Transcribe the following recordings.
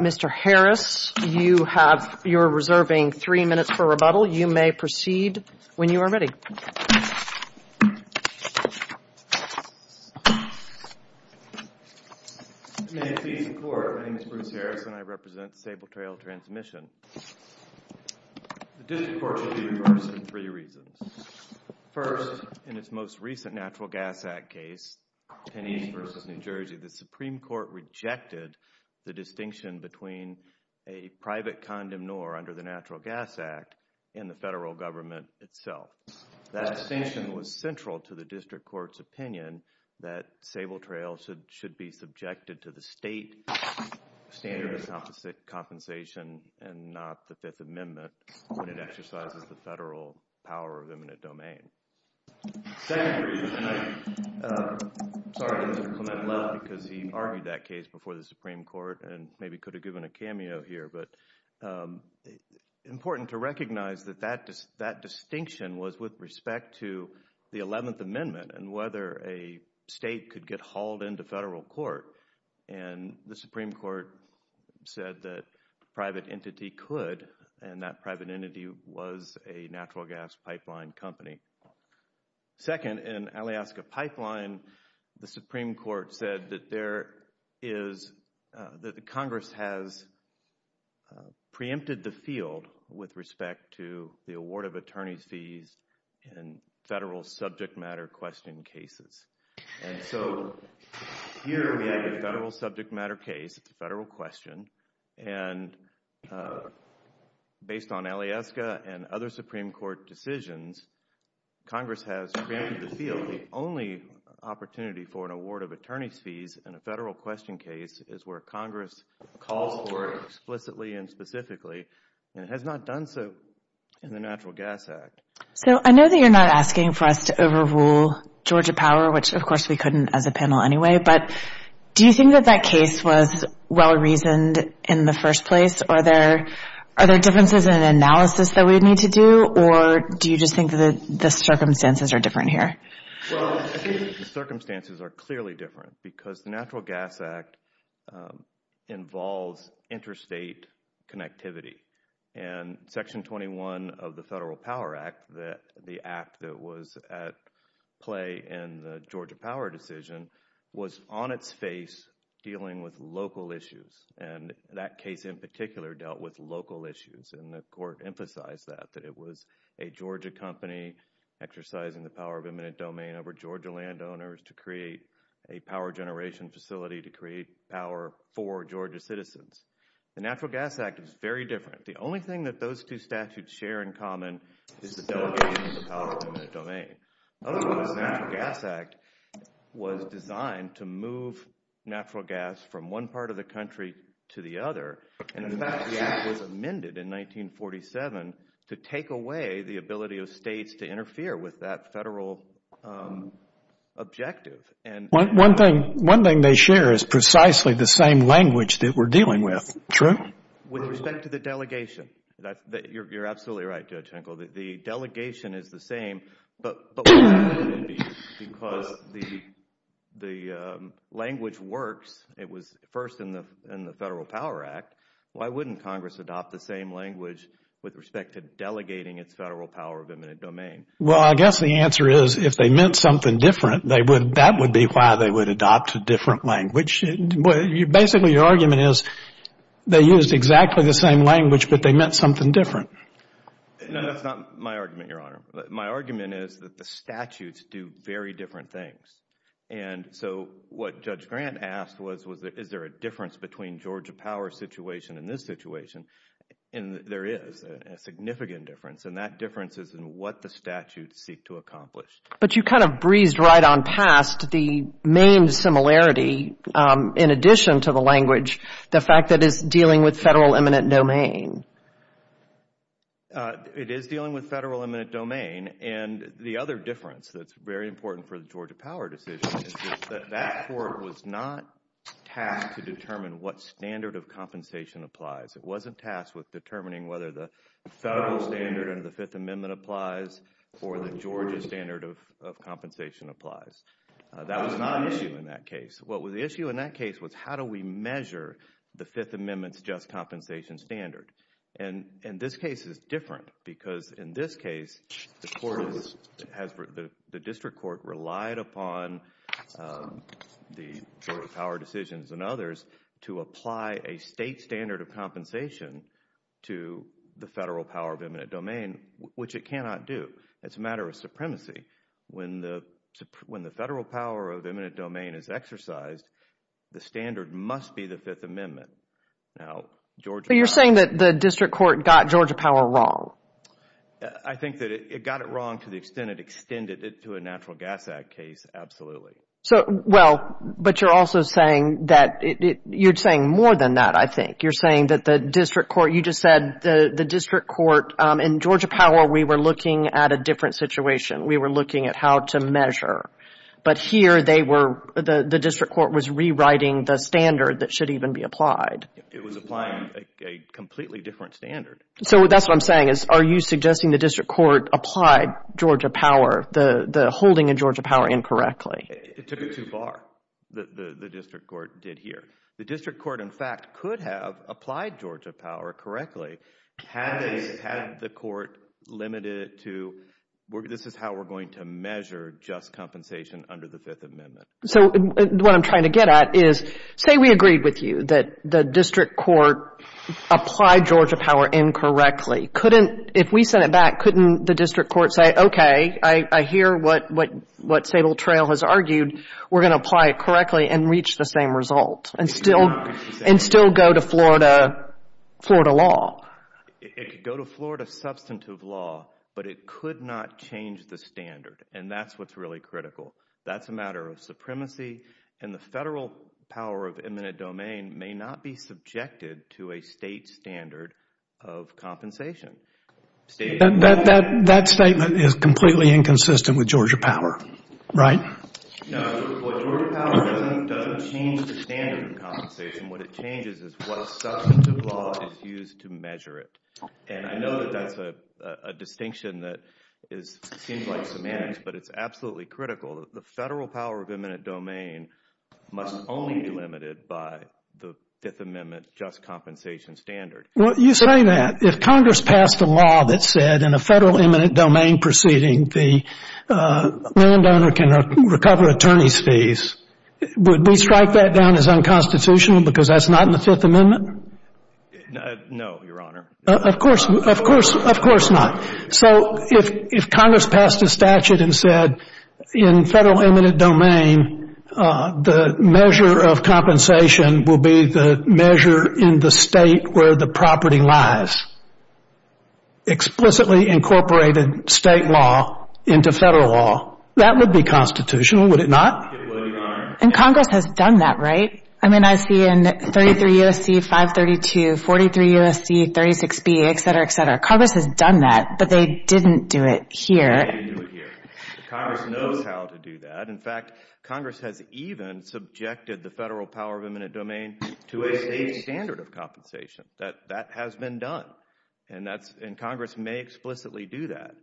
Mr. Harris, you have, you're reserving three minutes for rebuttal. You may proceed when you are ready. May it please the Court, my name is Bruce Harris and I represent Sable Trail Transmission. The District Court should be reversed for three reasons. First, in its most recent Natural Gas Act case, Penney's v. New Jersey, the Supreme Court rejected the distinction between a private condom nor under the Natural Gas Act and the federal government itself. That distinction was central to the District Court's opinion that Sable Trail should be subjected to the state standard of compensation and not the Fifth Amendment when it exercises the federal power of eminent domain. Second reason, and I'm sorry to Mr. Clement Love because he argued that case before the Supreme Court and maybe could have given a cameo here, but important to recognize that that distinction was with respect to the Eleventh Amendment and whether a state could get hauled into federal court. And the Supreme Court said that private entity could and that private entity was a natural gas pipeline company. Second, in Alaska Pipeline, the Supreme Court said that there is, that Congress has preempted the field with respect to the award of attorney's fees in federal subject matter question cases. And so here we have a federal subject matter case, a federal question, and based on Alaska and other Supreme Court decisions, Congress has preempted the field. The only opportunity for an award of attorney's fees in a federal question case is where Congress calls for it explicitly and specifically and has not done so in the Natural Gas Act. So I know that you're not asking for us to overrule Georgia Power, which of course we couldn't as a panel anyway, but do you think that that case was well-reasoned in the first place? Are there differences in analysis that we would need to do or do you just think that the circumstances are different here? Well, I think the circumstances are clearly different because the Natural Gas Act involves interstate connectivity. And Section 21 of the Federal Power Act, the act that was at play in the Georgia Power decision, was on its face dealing with local issues, and that case in particular dealt with local issues. And the Court emphasized that, that it was a Georgia company exercising the power of eminent domain over Georgia landowners to create a power generation facility to create power for Georgia citizens. The Natural Gas Act is very different. The only thing that those two statutes share in common is the delegation of the power of eminent domain. Otherwise, the Natural Gas Act was designed to move natural gas from one part of the country to the other. And in fact, the act was amended in 1947 to take away the ability of states to interfere with that federal objective. One thing they share is precisely the same language that we're dealing with. True? With respect to the delegation. You're absolutely right, Judge Henkel. The delegation is the same, but why would it be? Because the language works. It was first in the Federal Power Act. Why wouldn't Congress adopt the same language with respect to delegating its federal power of eminent domain? Well, I guess the answer is if they meant something different, that would be why they would adopt a different language. Basically, your argument is they used exactly the same language, but they meant something different. No, that's not my argument, Your Honor. My argument is that the statutes do very different things. And so what Judge Grant asked was, is there a difference between Georgia power situation and this situation? And there is a significant difference, and that difference is in what the statutes seek to accomplish. But you kind of breezed right on past the main similarity in addition to the language, the fact that it's dealing with federal eminent domain. It is dealing with federal eminent domain, and the other difference that's very important for the Georgia power decision is that that court was not tasked to determine what standard of compensation applies. It wasn't tasked with determining whether the federal standard under the Fifth Amendment applies or the Georgia standard of compensation applies. That was not an issue in that case. What was the issue in that case was how do we measure the Fifth Amendment's just compensation standard? And this case is different because in this case, the district court relied upon the Georgia power decisions and others to apply a state standard of compensation to the federal power of eminent domain, which it cannot do. It's a matter of supremacy. When the federal power of eminent domain is exercised, the standard must be the Fifth Amendment. So you're saying that the district court got Georgia power wrong? I think that it got it wrong to the extent it extended it to a Natural Gas Act case, absolutely. So, well, but you're also saying that, you're saying more than that, I think. You're saying that the district court, you just said the district court, in Georgia power, we were looking at a different situation. We were looking at how to measure. But here, they were, the district court was rewriting the standard that should even be applied. It was applying a completely different standard. So that's what I'm saying is, are you suggesting the district court applied Georgia power, the holding of Georgia power incorrectly? It took it too far, the district court did here. The district court, in fact, could have applied Georgia power correctly had the court limited it to, this is how we're going to measure just compensation under the Fifth Amendment. So what I'm trying to get at is, say we agreed with you that the district court applied Georgia power incorrectly. Couldn't, if we sent it back, couldn't the district court say, okay, I hear what Sable Trail has argued. We're going to apply it correctly and reach the same result and still go to Florida law? It could go to Florida substantive law, but it could not change the standard. And that's what's really critical. That's a matter of supremacy and the federal power of eminent domain may not be subjected to a state standard of compensation. That statement is completely inconsistent with Georgia power, right? No, Georgia power doesn't change the standard of compensation. What it changes is what substantive law is used to measure it. And I know that that's a distinction that seems like semantics, but it's absolutely critical that the federal power of eminent domain must only be limited by the Fifth Amendment just compensation standard. Well, you say that. If Congress passed a law that said in a federal eminent domain proceeding, the landowner can recover attorney's fees, would we strike that down as unconstitutional because that's not in the Fifth Amendment? No, Your Honor. Of course, of course, of course not. So if Congress passed a statute and said in federal eminent domain, the measure of compensation will be the measure in the state where the property lies, explicitly incorporated state law into federal law, that would be constitutional, would it not? And Congress has done that, right? I mean, I see in 33 U.S.C. 532, 43 U.S.C. 36B, et cetera, et cetera. Congress has done that, but they didn't do it here. They didn't do it here. Congress knows how to do that. In fact, Congress has even subjected the federal power of eminent domain to a state standard of compensation. That has been done, and Congress may explicitly do that,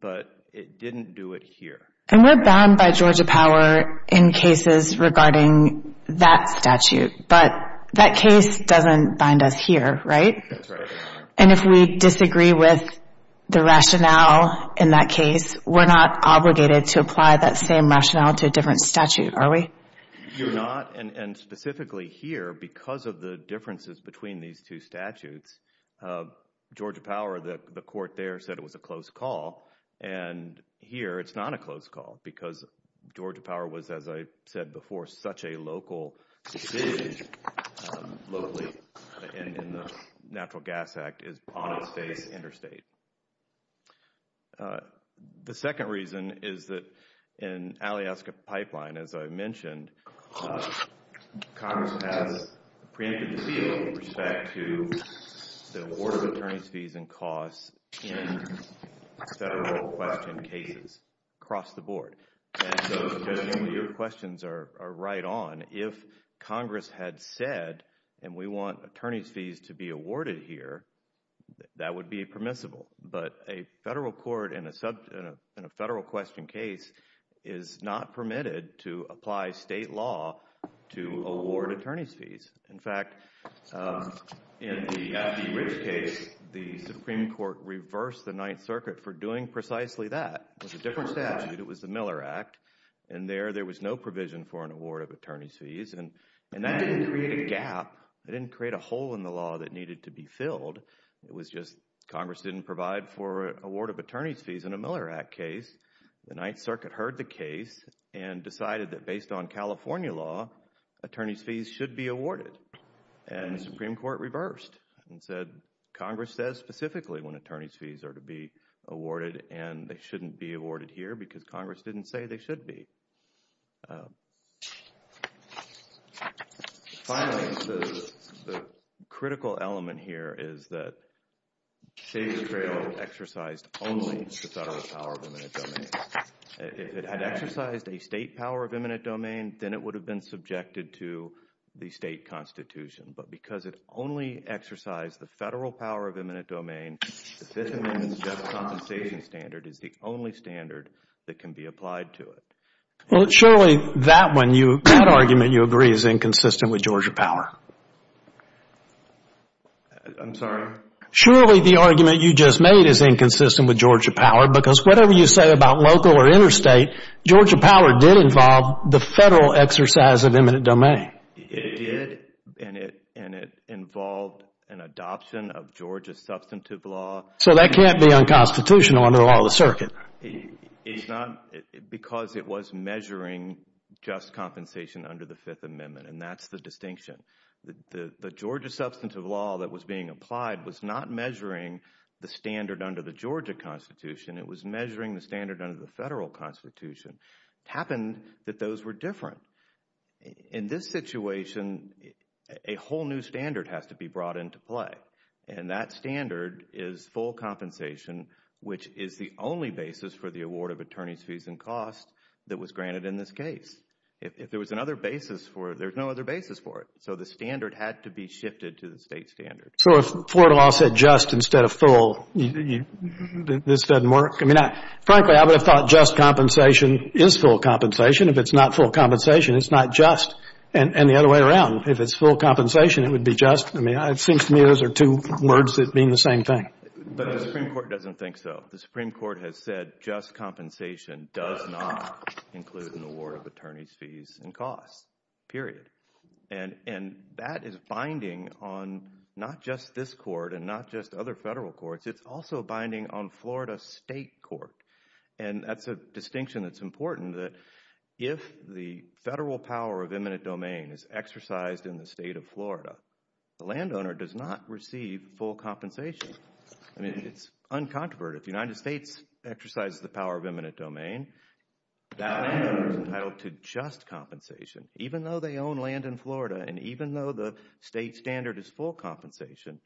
but it didn't do it here. And we're bound by Georgia power in cases regarding that statute, but that case doesn't bind us here, right? That's right, Your Honor. And if we disagree with the rationale in that case, we're not obligated to apply that same rationale to a different statute, are we? You're not. And specifically here, because of the differences between these two statutes, Georgia power, the court there said it was a close call, and here it's not a close call because Georgia power was, as I said before, such a local decision locally in the Natural Gas Act, is on its face interstate. The second reason is that in Alaska Pipeline, as I mentioned, Congress has preempted the deal with respect to the order of attorney's fees and costs in federal question cases across the board. And so, Mr. Chairman, your questions are right on. If Congress had said, and we want attorney's fees to be awarded here, that would be permissible. But a federal court in a federal question case is not permitted to apply state law to award attorney's fees. In fact, in the F.D. Ridge case, the Supreme Court reversed the Ninth Circuit for doing precisely that. It was a different statute. It was the Miller Act. And there, there was no provision for an award of attorney's fees. And that didn't create a gap. It didn't create a hole in the law that needed to be filled. It was just Congress didn't provide for award of attorney's fees in a Miller Act case. The Ninth Circuit heard the case and decided that based on California law, attorney's fees should be awarded. And the Supreme Court reversed and said, Congress says specifically when attorney's fees are to be awarded, and they shouldn't be awarded here because Congress didn't say they should be. Finally, the critical element here is that Savior's Trail exercised only the federal power of eminent domain. If it had exercised a state power of eminent domain, then it would have been subjected to the state constitution. But because it only exercised the federal power of eminent domain, the Fifth Amendment's just compensation standard is the only standard that can be applied to it. Well, surely that one, that argument you agree is inconsistent with Georgia power. I'm sorry? Surely the argument you just made is inconsistent with Georgia power because whatever you say about local or interstate, Georgia power did involve the federal exercise of eminent domain. It did, and it involved an adoption of Georgia's substantive law. So that can't be unconstitutional under the law of the circuit. It's not because it was measuring just compensation under the Fifth Amendment, and that's the distinction. The Georgia substantive law that was being applied was not measuring the standard under the Georgia constitution. It was measuring the standard under the federal constitution. It happened that those were different. In this situation, a whole new standard has to be brought into play, and that standard is full compensation, which is the only basis for the award of attorney's fees and costs that was granted in this case. If there was another basis for it, there's no other basis for it. So the standard had to be shifted to the state standard. So if Florida law said just instead of full, this doesn't work? I mean, frankly, I would have thought just compensation is full compensation. If it's not full compensation, it's not just, and the other way around. If it's full compensation, it would be just. I mean, it seems to me those are two words that mean the same thing. But the Supreme Court doesn't think so. The Supreme Court has said just compensation does not include an award of attorney's fees and costs, period. And that is binding on not just this court and not just other federal courts. It's also binding on Florida state court, and that's a distinction that's important, that if the federal power of eminent domain is exercised in the state of Florida, the landowner does not receive full compensation. I mean, it's uncontroverted. If the United States exercises the power of eminent domain, that landowner is entitled to just compensation. Even though they own land in Florida and even though the state standard is full compensation,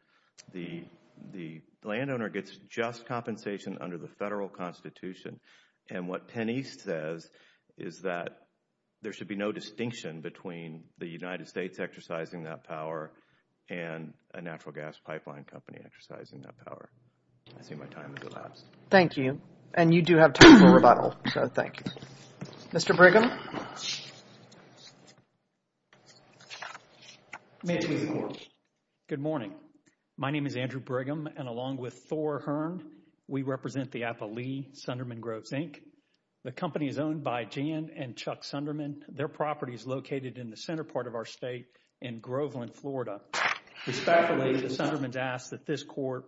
the landowner gets just compensation under the federal constitution. And what Penn East says is that there should be no distinction between the United States exercising that power and a natural gas pipeline company exercising that power. I see my time has elapsed. Thank you. And you do have time for rebuttal, so thank you. Mr. Brigham? Good morning. My name is Andrew Brigham. And along with Thor Hearn, we represent the Appalee Sunderman Groves, Inc. The company is owned by Jan and Chuck Sunderman. Their property is located in the center part of our state in Groveland, Florida. Respectfully, the Sundermans ask that this court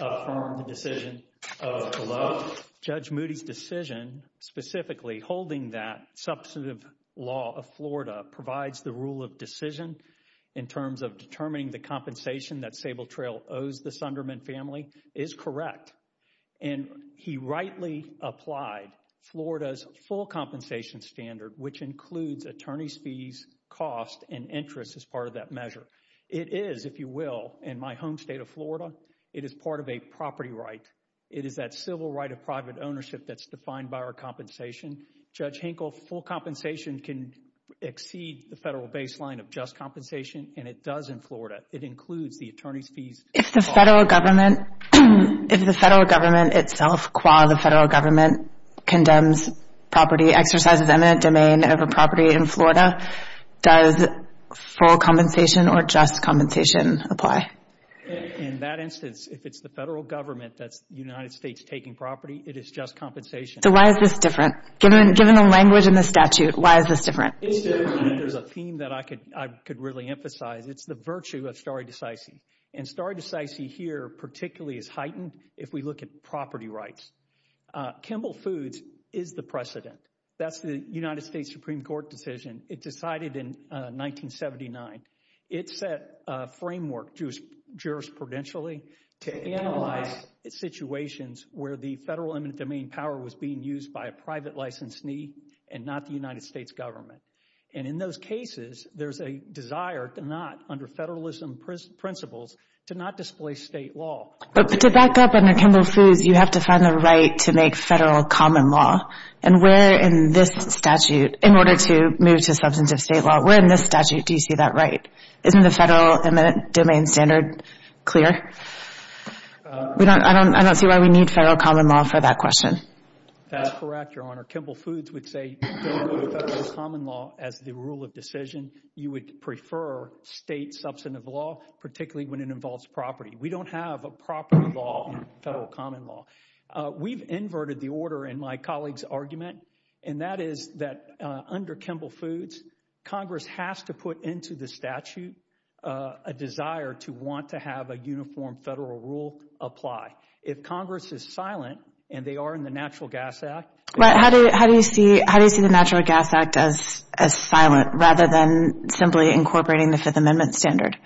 affirm the decision of the law. Judge Moody's decision, specifically holding that substantive law of Florida, provides the rule of decision in terms of determining the compensation that Sable Trail owes the Sunderman family, is correct. And he rightly applied Florida's full compensation standard, which includes attorney's fees, cost, and interest as part of that measure. It is, if you will, in my home state of Florida, it is part of a property right. It is that civil right of private ownership that's defined by our compensation. Judge Hinkle, full compensation can exceed the federal baseline of just compensation, and it does in Florida. It includes the attorney's fees. If the federal government itself, qua the federal government, condemns property exercises eminent domain of a property in Florida, does full compensation or just compensation apply? In that instance, if it's the federal government that's the United States taking property, it is just compensation. So why is this different? Given the language in the statute, why is this different? There's a theme that I could really emphasize. It's the virtue of stare decisis. And stare decisis here particularly is heightened if we look at property rights. Kimball Foods is the precedent. That's the United States Supreme Court decision. It decided in 1979. It set a framework jurisprudentially to analyze situations where the federal eminent domain power was being used by a private licensee and not the United States government. And in those cases, there's a desire to not, under federalism principles, to not display state law. But to back up under Kimball Foods, you have to find the right to make federal common law. And where in this statute, in order to move to substantive state law, where in this statute do you see that right? Isn't the federal eminent domain standard clear? I don't see why we need federal common law for that question. That's correct, Your Honor. Kimball Foods would say don't go to federal common law as the rule of decision. You would prefer state substantive law, particularly when it involves property. We don't have a property law in federal common law. We've inverted the order in my colleague's argument, and that is that under Kimball Foods, Congress has to put into the statute a desire to want to have a uniform federal rule apply. If Congress is silent, and they are in the Natural Gas Act. But how do you see the Natural Gas Act as silent rather than simply incorporating the Fifth Amendment standard?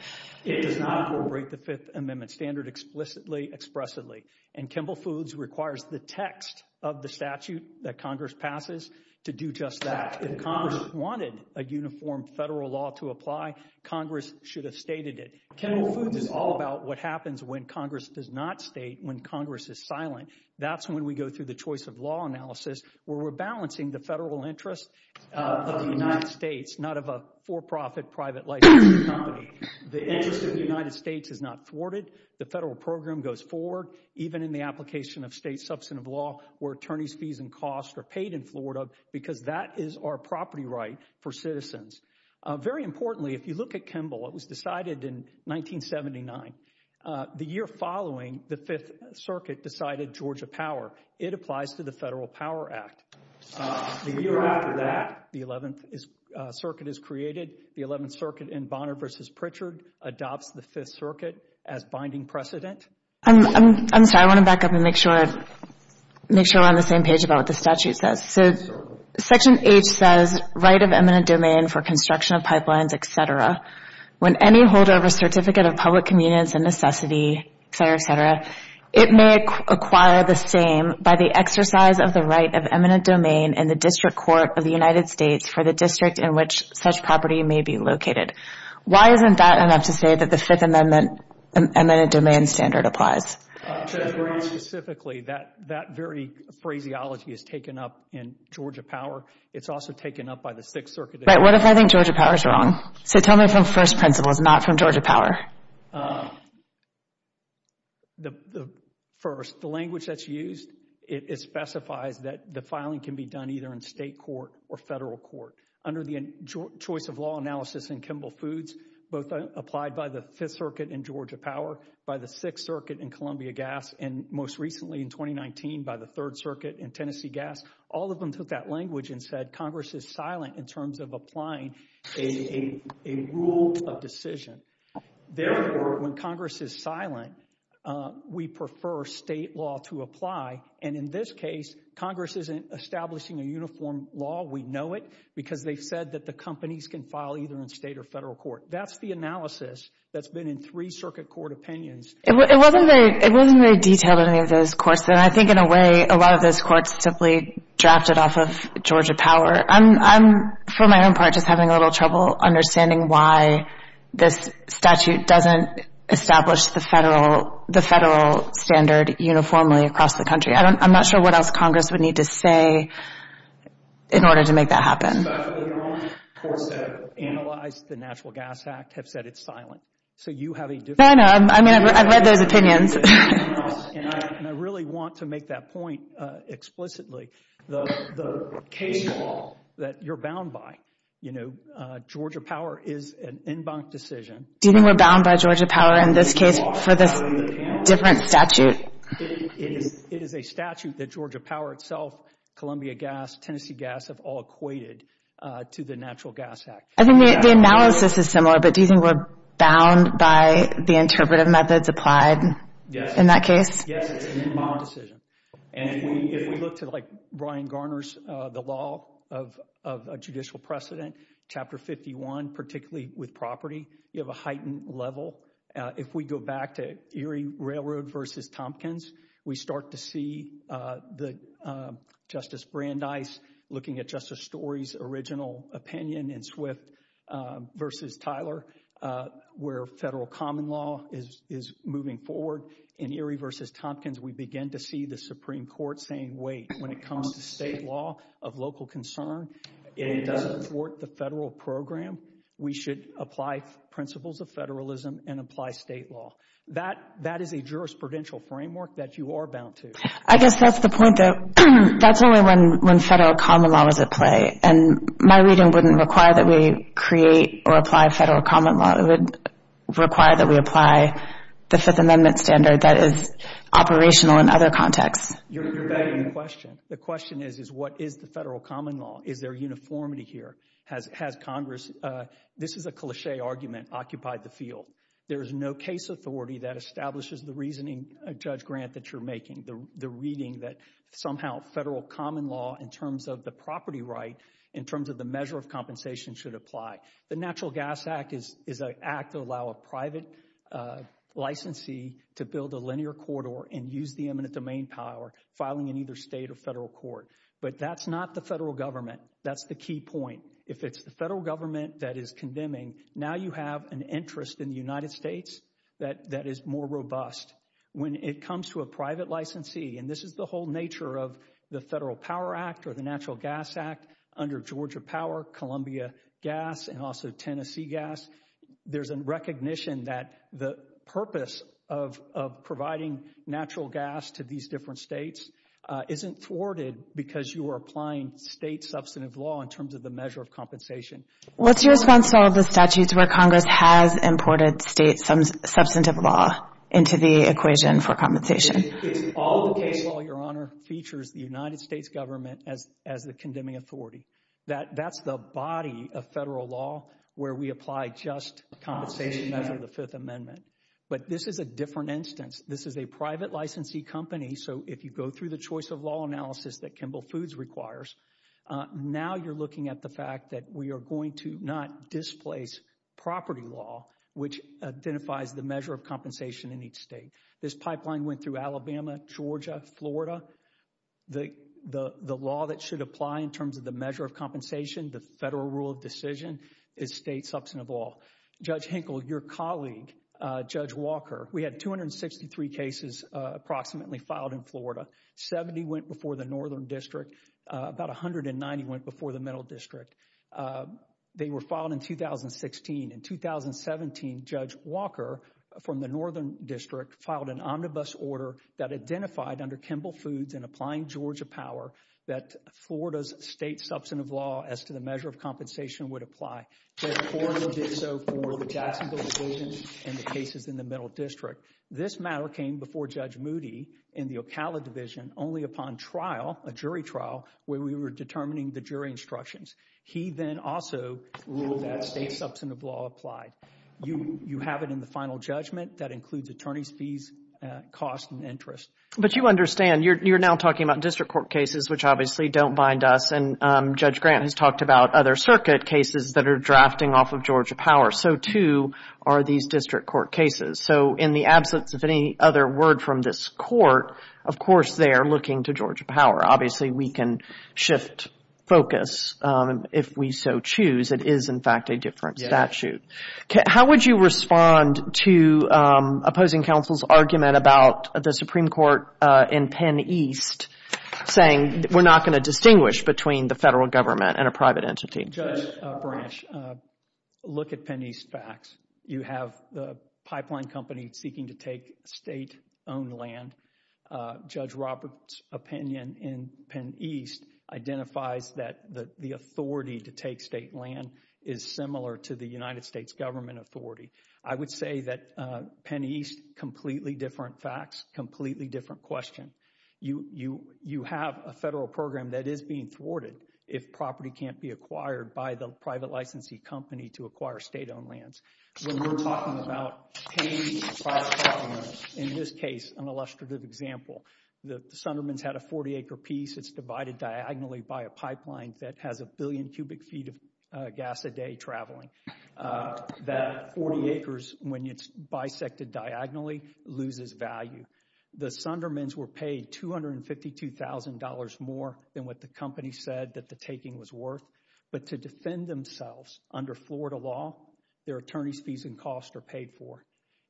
It does not incorporate the Fifth Amendment standard explicitly, expressively. And Kimball Foods requires the text of the statute that Congress passes to do just that. If Congress wanted a uniform federal law to apply, Congress should have stated it. Kimball Foods is all about what happens when Congress does not state when Congress is silent. That's when we go through the choice of law analysis, where we're balancing the federal interest of the United States, not of a for-profit private licensing company. The interest of the United States is not thwarted. The federal program goes forward, even in the application of state substantive law, where attorneys' fees and costs are paid in Florida, because that is our property right for citizens. Very importantly, if you look at Kimball, it was decided in 1979. The year following, the Fifth Circuit decided Georgia Power. It applies to the Federal Power Act. The year after that, the Eleventh Circuit is created. The Eleventh Circuit in Bonner v. Pritchard adopts the Fifth Circuit as binding precedent. I'm sorry. I want to back up and make sure we're on the same page about what the statute says. Section H says, right of eminent domain for construction of pipelines, et cetera. When any holder of a certificate of public convenience and necessity, et cetera, et cetera, it may acquire the same by the exercise of the right of eminent domain in the District Court of the United States for the district in which such property may be located. Why isn't that enough to say that the Fifth Amendment eminent domain standard applies? Very specifically, that very phraseology is taken up in Georgia Power. It's also taken up by the Sixth Circuit. What if I think Georgia Power is wrong? Tell me from first principles, not from Georgia Power. First, the language that's used, it specifies that the filing can be done either in state court or federal court. Under the choice of law analysis in Kimball Foods, both applied by the Fifth Circuit in Georgia Power, by the Sixth Circuit in Columbia Gas, and most recently in 2019 by the Third Circuit in Tennessee Gas, all of them took that language and said Congress is silent in terms of applying a rule of decision. Therefore, when Congress is silent, we prefer state law to apply. And in this case, Congress isn't establishing a uniform law. We know it because they've said that the companies can file either in state or federal court. That's the analysis that's been in three circuit court opinions. It wasn't very detailed in any of those courts, and I think in a way a lot of those courts simply drafted off of Georgia Power. I'm, for my own part, just having a little trouble understanding why this statute doesn't establish the federal standard uniformly across the country. I'm not sure what else Congress would need to say in order to make that happen. Most of the courts that have analyzed the Natural Gas Act have said it's silent, so you have a different opinion. No, I know. I mean, I've read those opinions. And I really want to make that point explicitly. The case law that you're bound by, you know, Georgia Power is an en banc decision. Do you think we're bound by Georgia Power in this case for this different statute? It is a statute that Georgia Power itself, Columbia Gas, Tennessee Gas, have all equated to the Natural Gas Act. I think the analysis is similar, but do you think we're bound by the interpretive methods applied in that case? Yes, it's an en banc decision. And if we look to, like, Brian Garner's The Law of Judicial Precedent, Chapter 51, particularly with property, you have a heightened level. If we go back to Erie Railroad v. Tompkins, we start to see that Justice Brandeis, looking at Justice Story's original opinion in Swift v. Tyler, where federal common law is moving forward. In Erie v. Tompkins, we begin to see the Supreme Court saying, wait, when it comes to state law of local concern, it doesn't thwart the federal program. We should apply principles of federalism and apply state law. That is a jurisprudential framework that you are bound to. I guess that's the point, though. That's only when federal common law is at play. And my reading wouldn't require that we create or apply federal common law. It would require that we apply the Fifth Amendment standard that is operational in other contexts. You're begging the question. The question is, is what is the federal common law? Is there uniformity here? Has Congress – this is a cliché argument – occupied the field? There is no case authority that establishes the reasoning, Judge Grant, that you're making, the reading that somehow federal common law in terms of the property right, in terms of the measure of compensation, should apply. The Natural Gas Act is an act to allow a private licensee to build a linear corridor and use the eminent domain power, filing in either state or federal court. But that's not the federal government. That's the key point. If it's the federal government that is condemning, now you have an interest in the United States that is more robust. When it comes to a private licensee – and this is the whole nature of the Federal Power Act or the Natural Gas Act under Georgia Power, Columbia Gas, and also Tennessee Gas – there's a recognition that the purpose of providing natural gas to these different states isn't thwarted because you are applying state substantive law in terms of the measure of compensation. What's your response to all the statutes where Congress has imported state substantive law into the equation for compensation? All the case law, Your Honor, features the United States government as the condemning authority. That's the body of federal law where we apply just compensation under the Fifth Amendment. But this is a different instance. This is a private licensee company. So if you go through the choice of law analysis that Kimball Foods requires, now you're looking at the fact that we are going to not displace property law, which identifies the measure of compensation in each state. This pipeline went through Alabama, Georgia, Florida. The law that should apply in terms of the measure of compensation, the federal rule of decision, is state substantive law. Judge Hinkle, your colleague, Judge Walker, we had 263 cases approximately filed in Florida. Seventy went before the Northern District. About 190 went before the Middle District. They were filed in 2016. In 2017, Judge Walker from the Northern District filed an omnibus order that identified under Kimball Foods and applying Georgia power that Florida's state substantive law as to the measure of compensation would apply. And Florida did so for the Jacksonville Division and the cases in the Middle District. This matter came before Judge Moody in the Ocala Division only upon trial, a jury trial, where we were determining the jury instructions. He then also ruled that state substantive law applied. You have it in the final judgment. That includes attorney's fees, cost, and interest. But you understand, you're now talking about district court cases, which obviously don't bind us. And Judge Grant has talked about other circuit cases that are drafting off of Georgia power. So, too, are these district court cases. So in the absence of any other word from this court, of course they are looking to Georgia power. Obviously, we can shift focus if we so choose. It is, in fact, a different statute. How would you respond to opposing counsel's argument about the Supreme Court in Penn East saying we're not going to distinguish between the federal government and a private entity? Judge Branch, look at Penn East facts. You have the pipeline company seeking to take state-owned land. Judge Roberts' opinion in Penn East identifies that the authority to take state land is similar to the United States government authority. I would say that Penn East, completely different facts, completely different question. You have a federal program that is being thwarted if property can't be acquired by the private licensee company to acquire state-owned lands. When we're talking about paying private property owners, in this case, an illustrative example, the Sundermans had a 40-acre piece that's divided diagonally by a pipeline that has a billion cubic feet of gas a day traveling. That 40 acres, when it's bisected diagonally, loses value. The Sundermans were paid $252,000 more than what the company said that the taking was worth. But to defend themselves under Florida law, their attorney's fees and costs are paid for.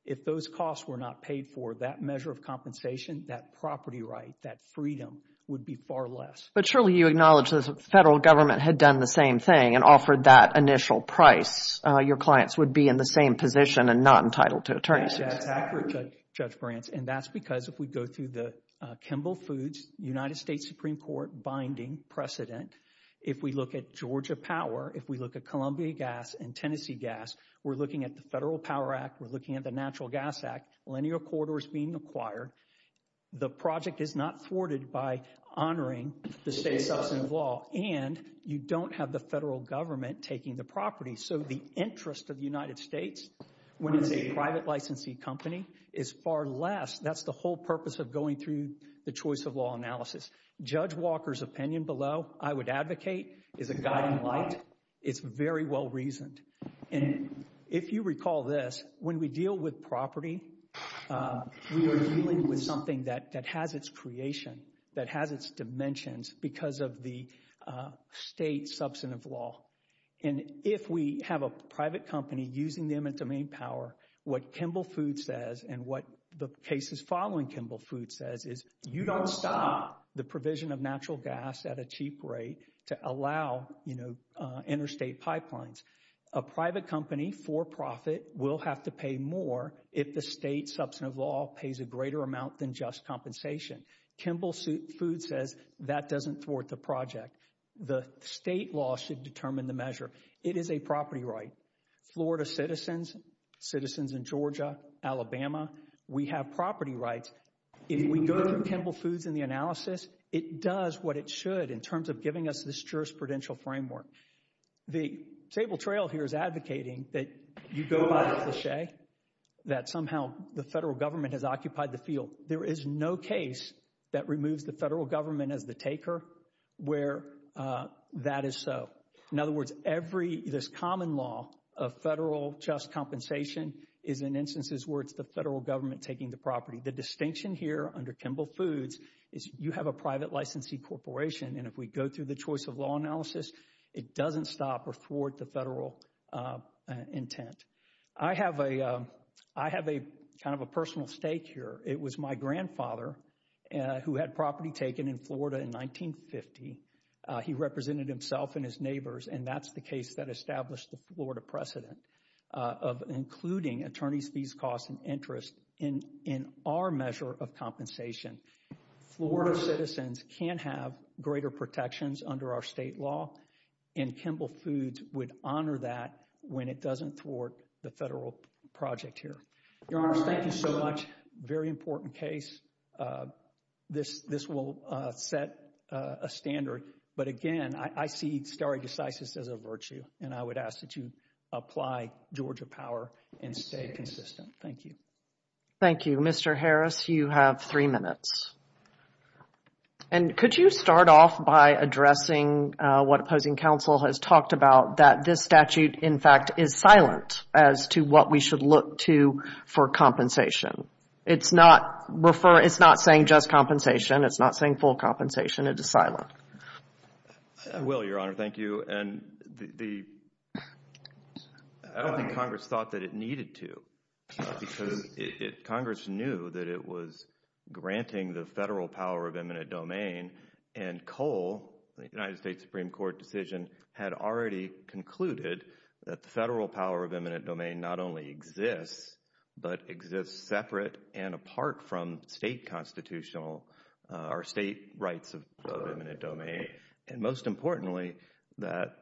If those costs were not paid for, that measure of compensation, that property right, that freedom would be far less. But surely you acknowledge the federal government had done the same thing and offered that initial price. Your clients would be in the same position and not entitled to attorney's fees. That's accurate, Judge Brantz, and that's because if we go through the Kimball Foods United States Supreme Court binding precedent, if we look at Georgia Power, if we look at Columbia Gas and Tennessee Gas, we're looking at the Federal Power Act, we're looking at the Natural Gas Act, linear corridors being acquired. The project is not thwarted by honoring the state's substantive law, and you don't have the federal government taking the property. So the interest of the United States, when it's a private licensee company, is far less. That's the whole purpose of going through the choice of law analysis. Judge Walker's opinion below, I would advocate, is a guiding light. It's very well reasoned. And if you recall this, when we deal with property, we are dealing with something that has its creation, that has its dimensions because of the state's substantive law. And if we have a private company using them in domain power, what Kimball Foods says and what the cases following Kimball Foods says is you don't stop the provision of natural gas at a cheap rate to allow, you know, interstate pipelines. A private company for profit will have to pay more if the state's substantive law pays a greater amount than just compensation. Kimball Foods says that doesn't thwart the project. The state law should determine the measure. It is a property right. Florida citizens, citizens in Georgia, Alabama, we have property rights. If we go to Kimball Foods in the analysis, it does what it should in terms of giving us this jurisprudential framework. The table trail here is advocating that you go by the cliche, that somehow the federal government has occupied the field. There is no case that removes the federal government as the taker where that is so. In other words, this common law of federal just compensation is in instances where it's the federal government taking the property. The distinction here under Kimball Foods is you have a private licensee corporation, and if we go through the choice of law analysis, it doesn't stop or thwart the federal intent. I have a kind of a personal stake here. It was my grandfather who had property taken in Florida in 1950. He represented himself and his neighbors, and that's the case that established the Florida precedent of including attorney's fees, costs, and interest in our measure of compensation. Florida citizens can have greater protections under our state law, and Kimball Foods would honor that when it doesn't thwart the federal project here. Your Honors, thank you so much. Very important case. This will set a standard, but again, I see stare decisis as a virtue, and I would ask that you apply Georgia power and stay consistent. Thank you. Thank you. Mr. Harris, you have three minutes. Could you start off by addressing what opposing counsel has talked about, that this statute, in fact, is silent as to what we should look to for compensation? It's not saying just compensation. It's not saying full compensation. It is silent. I will, Your Honor. Thank you. I don't think Congress thought that it needed to because Congress knew that it was granting the federal power of eminent domain, and COLE, the United States Supreme Court decision, had already concluded that the federal power of eminent domain not only exists, but exists separate and apart from state constitutional or state rights of eminent domain, and most importantly, that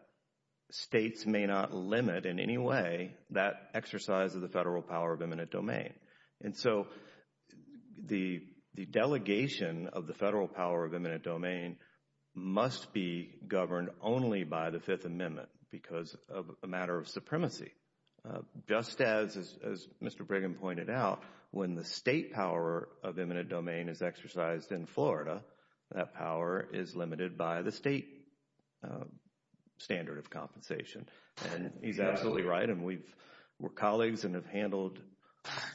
states may not limit in any way that exercise of the federal power of eminent domain. And so the delegation of the federal power of eminent domain must be governed only by the Fifth Amendment because of a matter of supremacy. Just as Mr. Brigham pointed out, when the state power of eminent domain is exercised in Florida, that power is limited by the state standard of compensation. And he's absolutely right, and we're colleagues and have handled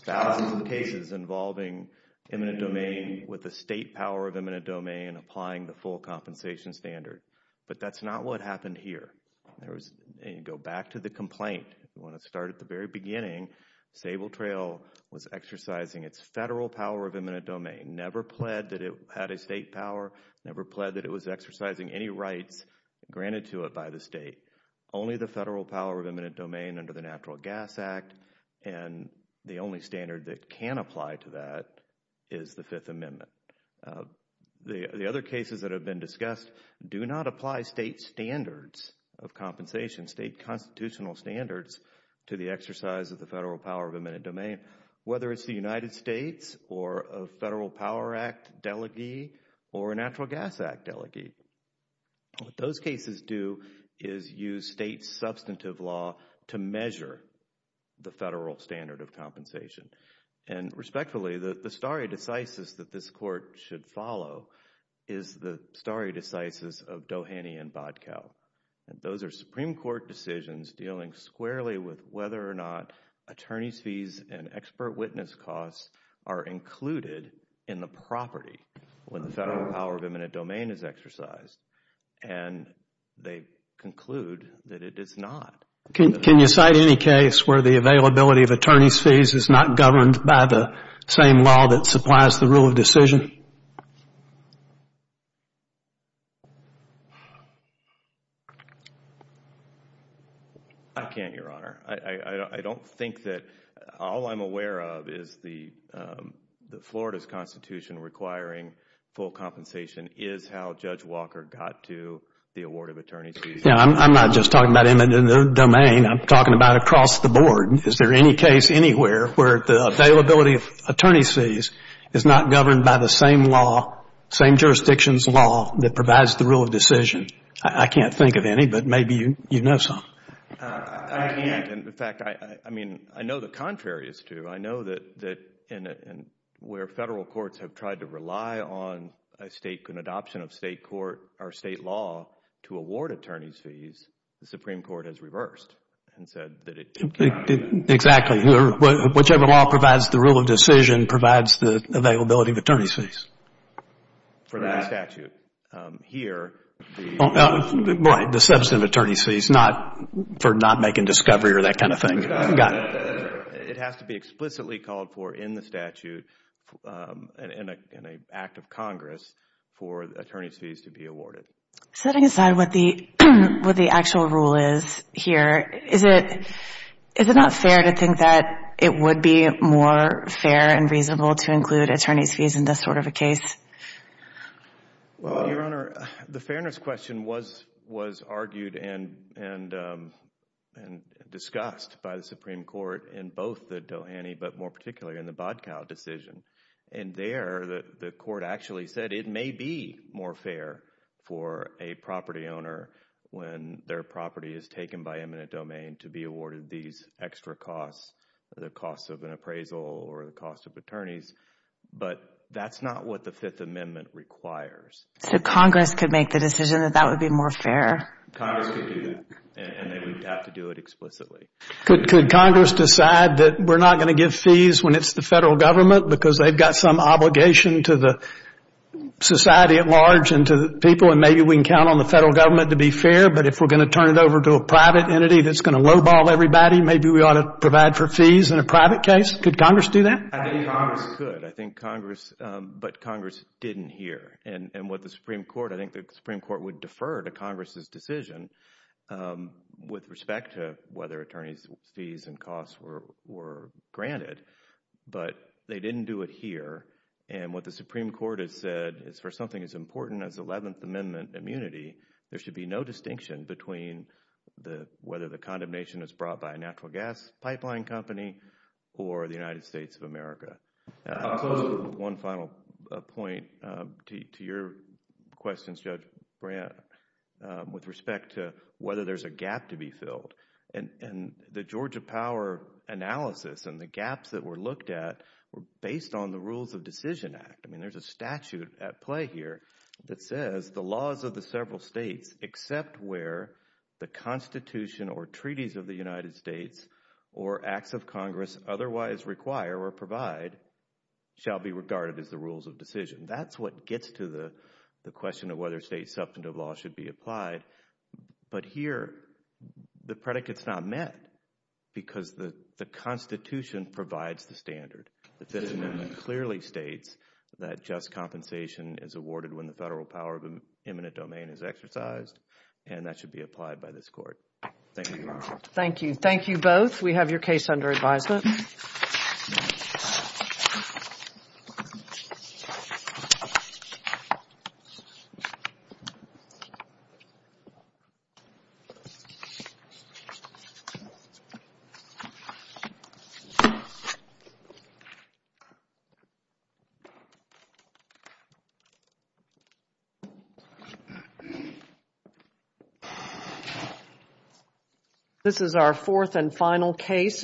thousands of cases involving eminent domain with the state power of eminent domain applying the full compensation standard. But that's not what happened here. Go back to the complaint. We want to start at the very beginning. Sable Trail was exercising its federal power of eminent domain, never pled that it had a state power, never pled that it was exercising any rights granted to it by the state. Only the federal power of eminent domain under the Natural Gas Act, and the only standard that can apply to that is the Fifth Amendment. The other cases that have been discussed do not apply state standards of compensation, state constitutional standards to the exercise of the federal power of eminent domain, whether it's the United States or a Federal Power Act delegee or a Natural Gas Act delegee. What those cases do is use state substantive law to measure the federal standard of compensation. And respectfully, the stare decisis that this Court should follow is the stare decisis of Doheny and Bodkell. Those are Supreme Court decisions dealing squarely with whether or not attorneys' fees and expert witness costs are included in the property when the federal power of eminent domain is exercised. And they conclude that it is not. Can you cite any case where the availability of attorneys' fees is not governed by the same law that supplies the rule of decision? I can't, Your Honor. I don't think that all I'm aware of is the Florida's Constitution requiring full compensation is how Judge Walker got to the award of attorneys' fees. I'm not just talking about eminent domain. I'm talking about across the board. Is there any case anywhere where the availability of attorneys' fees is not governed by the same law, same jurisdiction's law that provides the rule of decision? I can't think of any, but maybe you know some. I can't. In fact, I mean, I know the contrary is true. I know that where federal courts have tried to rely on an adoption of state law to award attorneys' fees, the Supreme Court has reversed and said that it did not. Exactly. Whichever law provides the rule of decision provides the availability of attorneys' fees. For that statute. The substantive attorney's fees for not making discovery or that kind of thing. It has to be explicitly called for in the statute in an act of Congress for attorneys' fees to be awarded. Setting aside what the actual rule is here, is it not fair to think that it would be more fair and reasonable to include attorneys' fees in this sort of a case? Well, Your Honor, the fairness question was argued and discussed by the Supreme Court in both the Dohany but more particularly in the Bodcow decision. And there the court actually said it may be more fair for a property owner when their property is taken by eminent domain to be awarded these extra costs, the cost of an appraisal or the cost of attorneys. But that's not what the Fifth Amendment requires. So Congress could make the decision that that would be more fair. Congress could do that. And they would have to do it explicitly. Could Congress decide that we're not going to give fees when it's the federal government because they've got some obligation to the society at large and to the people and maybe we can count on the federal government to be fair. But if we're going to turn it over to a private entity that's going to lowball everybody, maybe we ought to provide for fees in a private case. Could Congress do that? I think Congress could. I think Congress, but Congress didn't hear. And what the Supreme Court, I think the Supreme Court would defer to Congress' decision with respect to whether attorneys' fees and costs were granted. But they didn't do it here. And what the Supreme Court has said is for something as important as Eleventh Amendment immunity, there should be no distinction between whether the condemnation is brought by a natural gas pipeline company or the United States of America. I'll close with one final point to your questions, Judge Brandt, with respect to whether there's a gap to be filled. And the Georgia power analysis and the gaps that were looked at were based on the Rules of Decision Act. I mean, there's a statute at play here that says the laws of the several states except where the Constitution or treaties of the United States or acts of Congress otherwise require or provide shall be regarded as the rules of decision. That's what gets to the question of whether state substantive law should be applied. But here the predicate's not met because the Constitution provides the standard. The Fifth Amendment clearly states that just compensation is awarded when the federal power of eminent domain is exercised, and that should be applied by this Court. Thank you, Your Honor. Thank you. Thank you both. We have your case under advisement. This is our fourth and final case.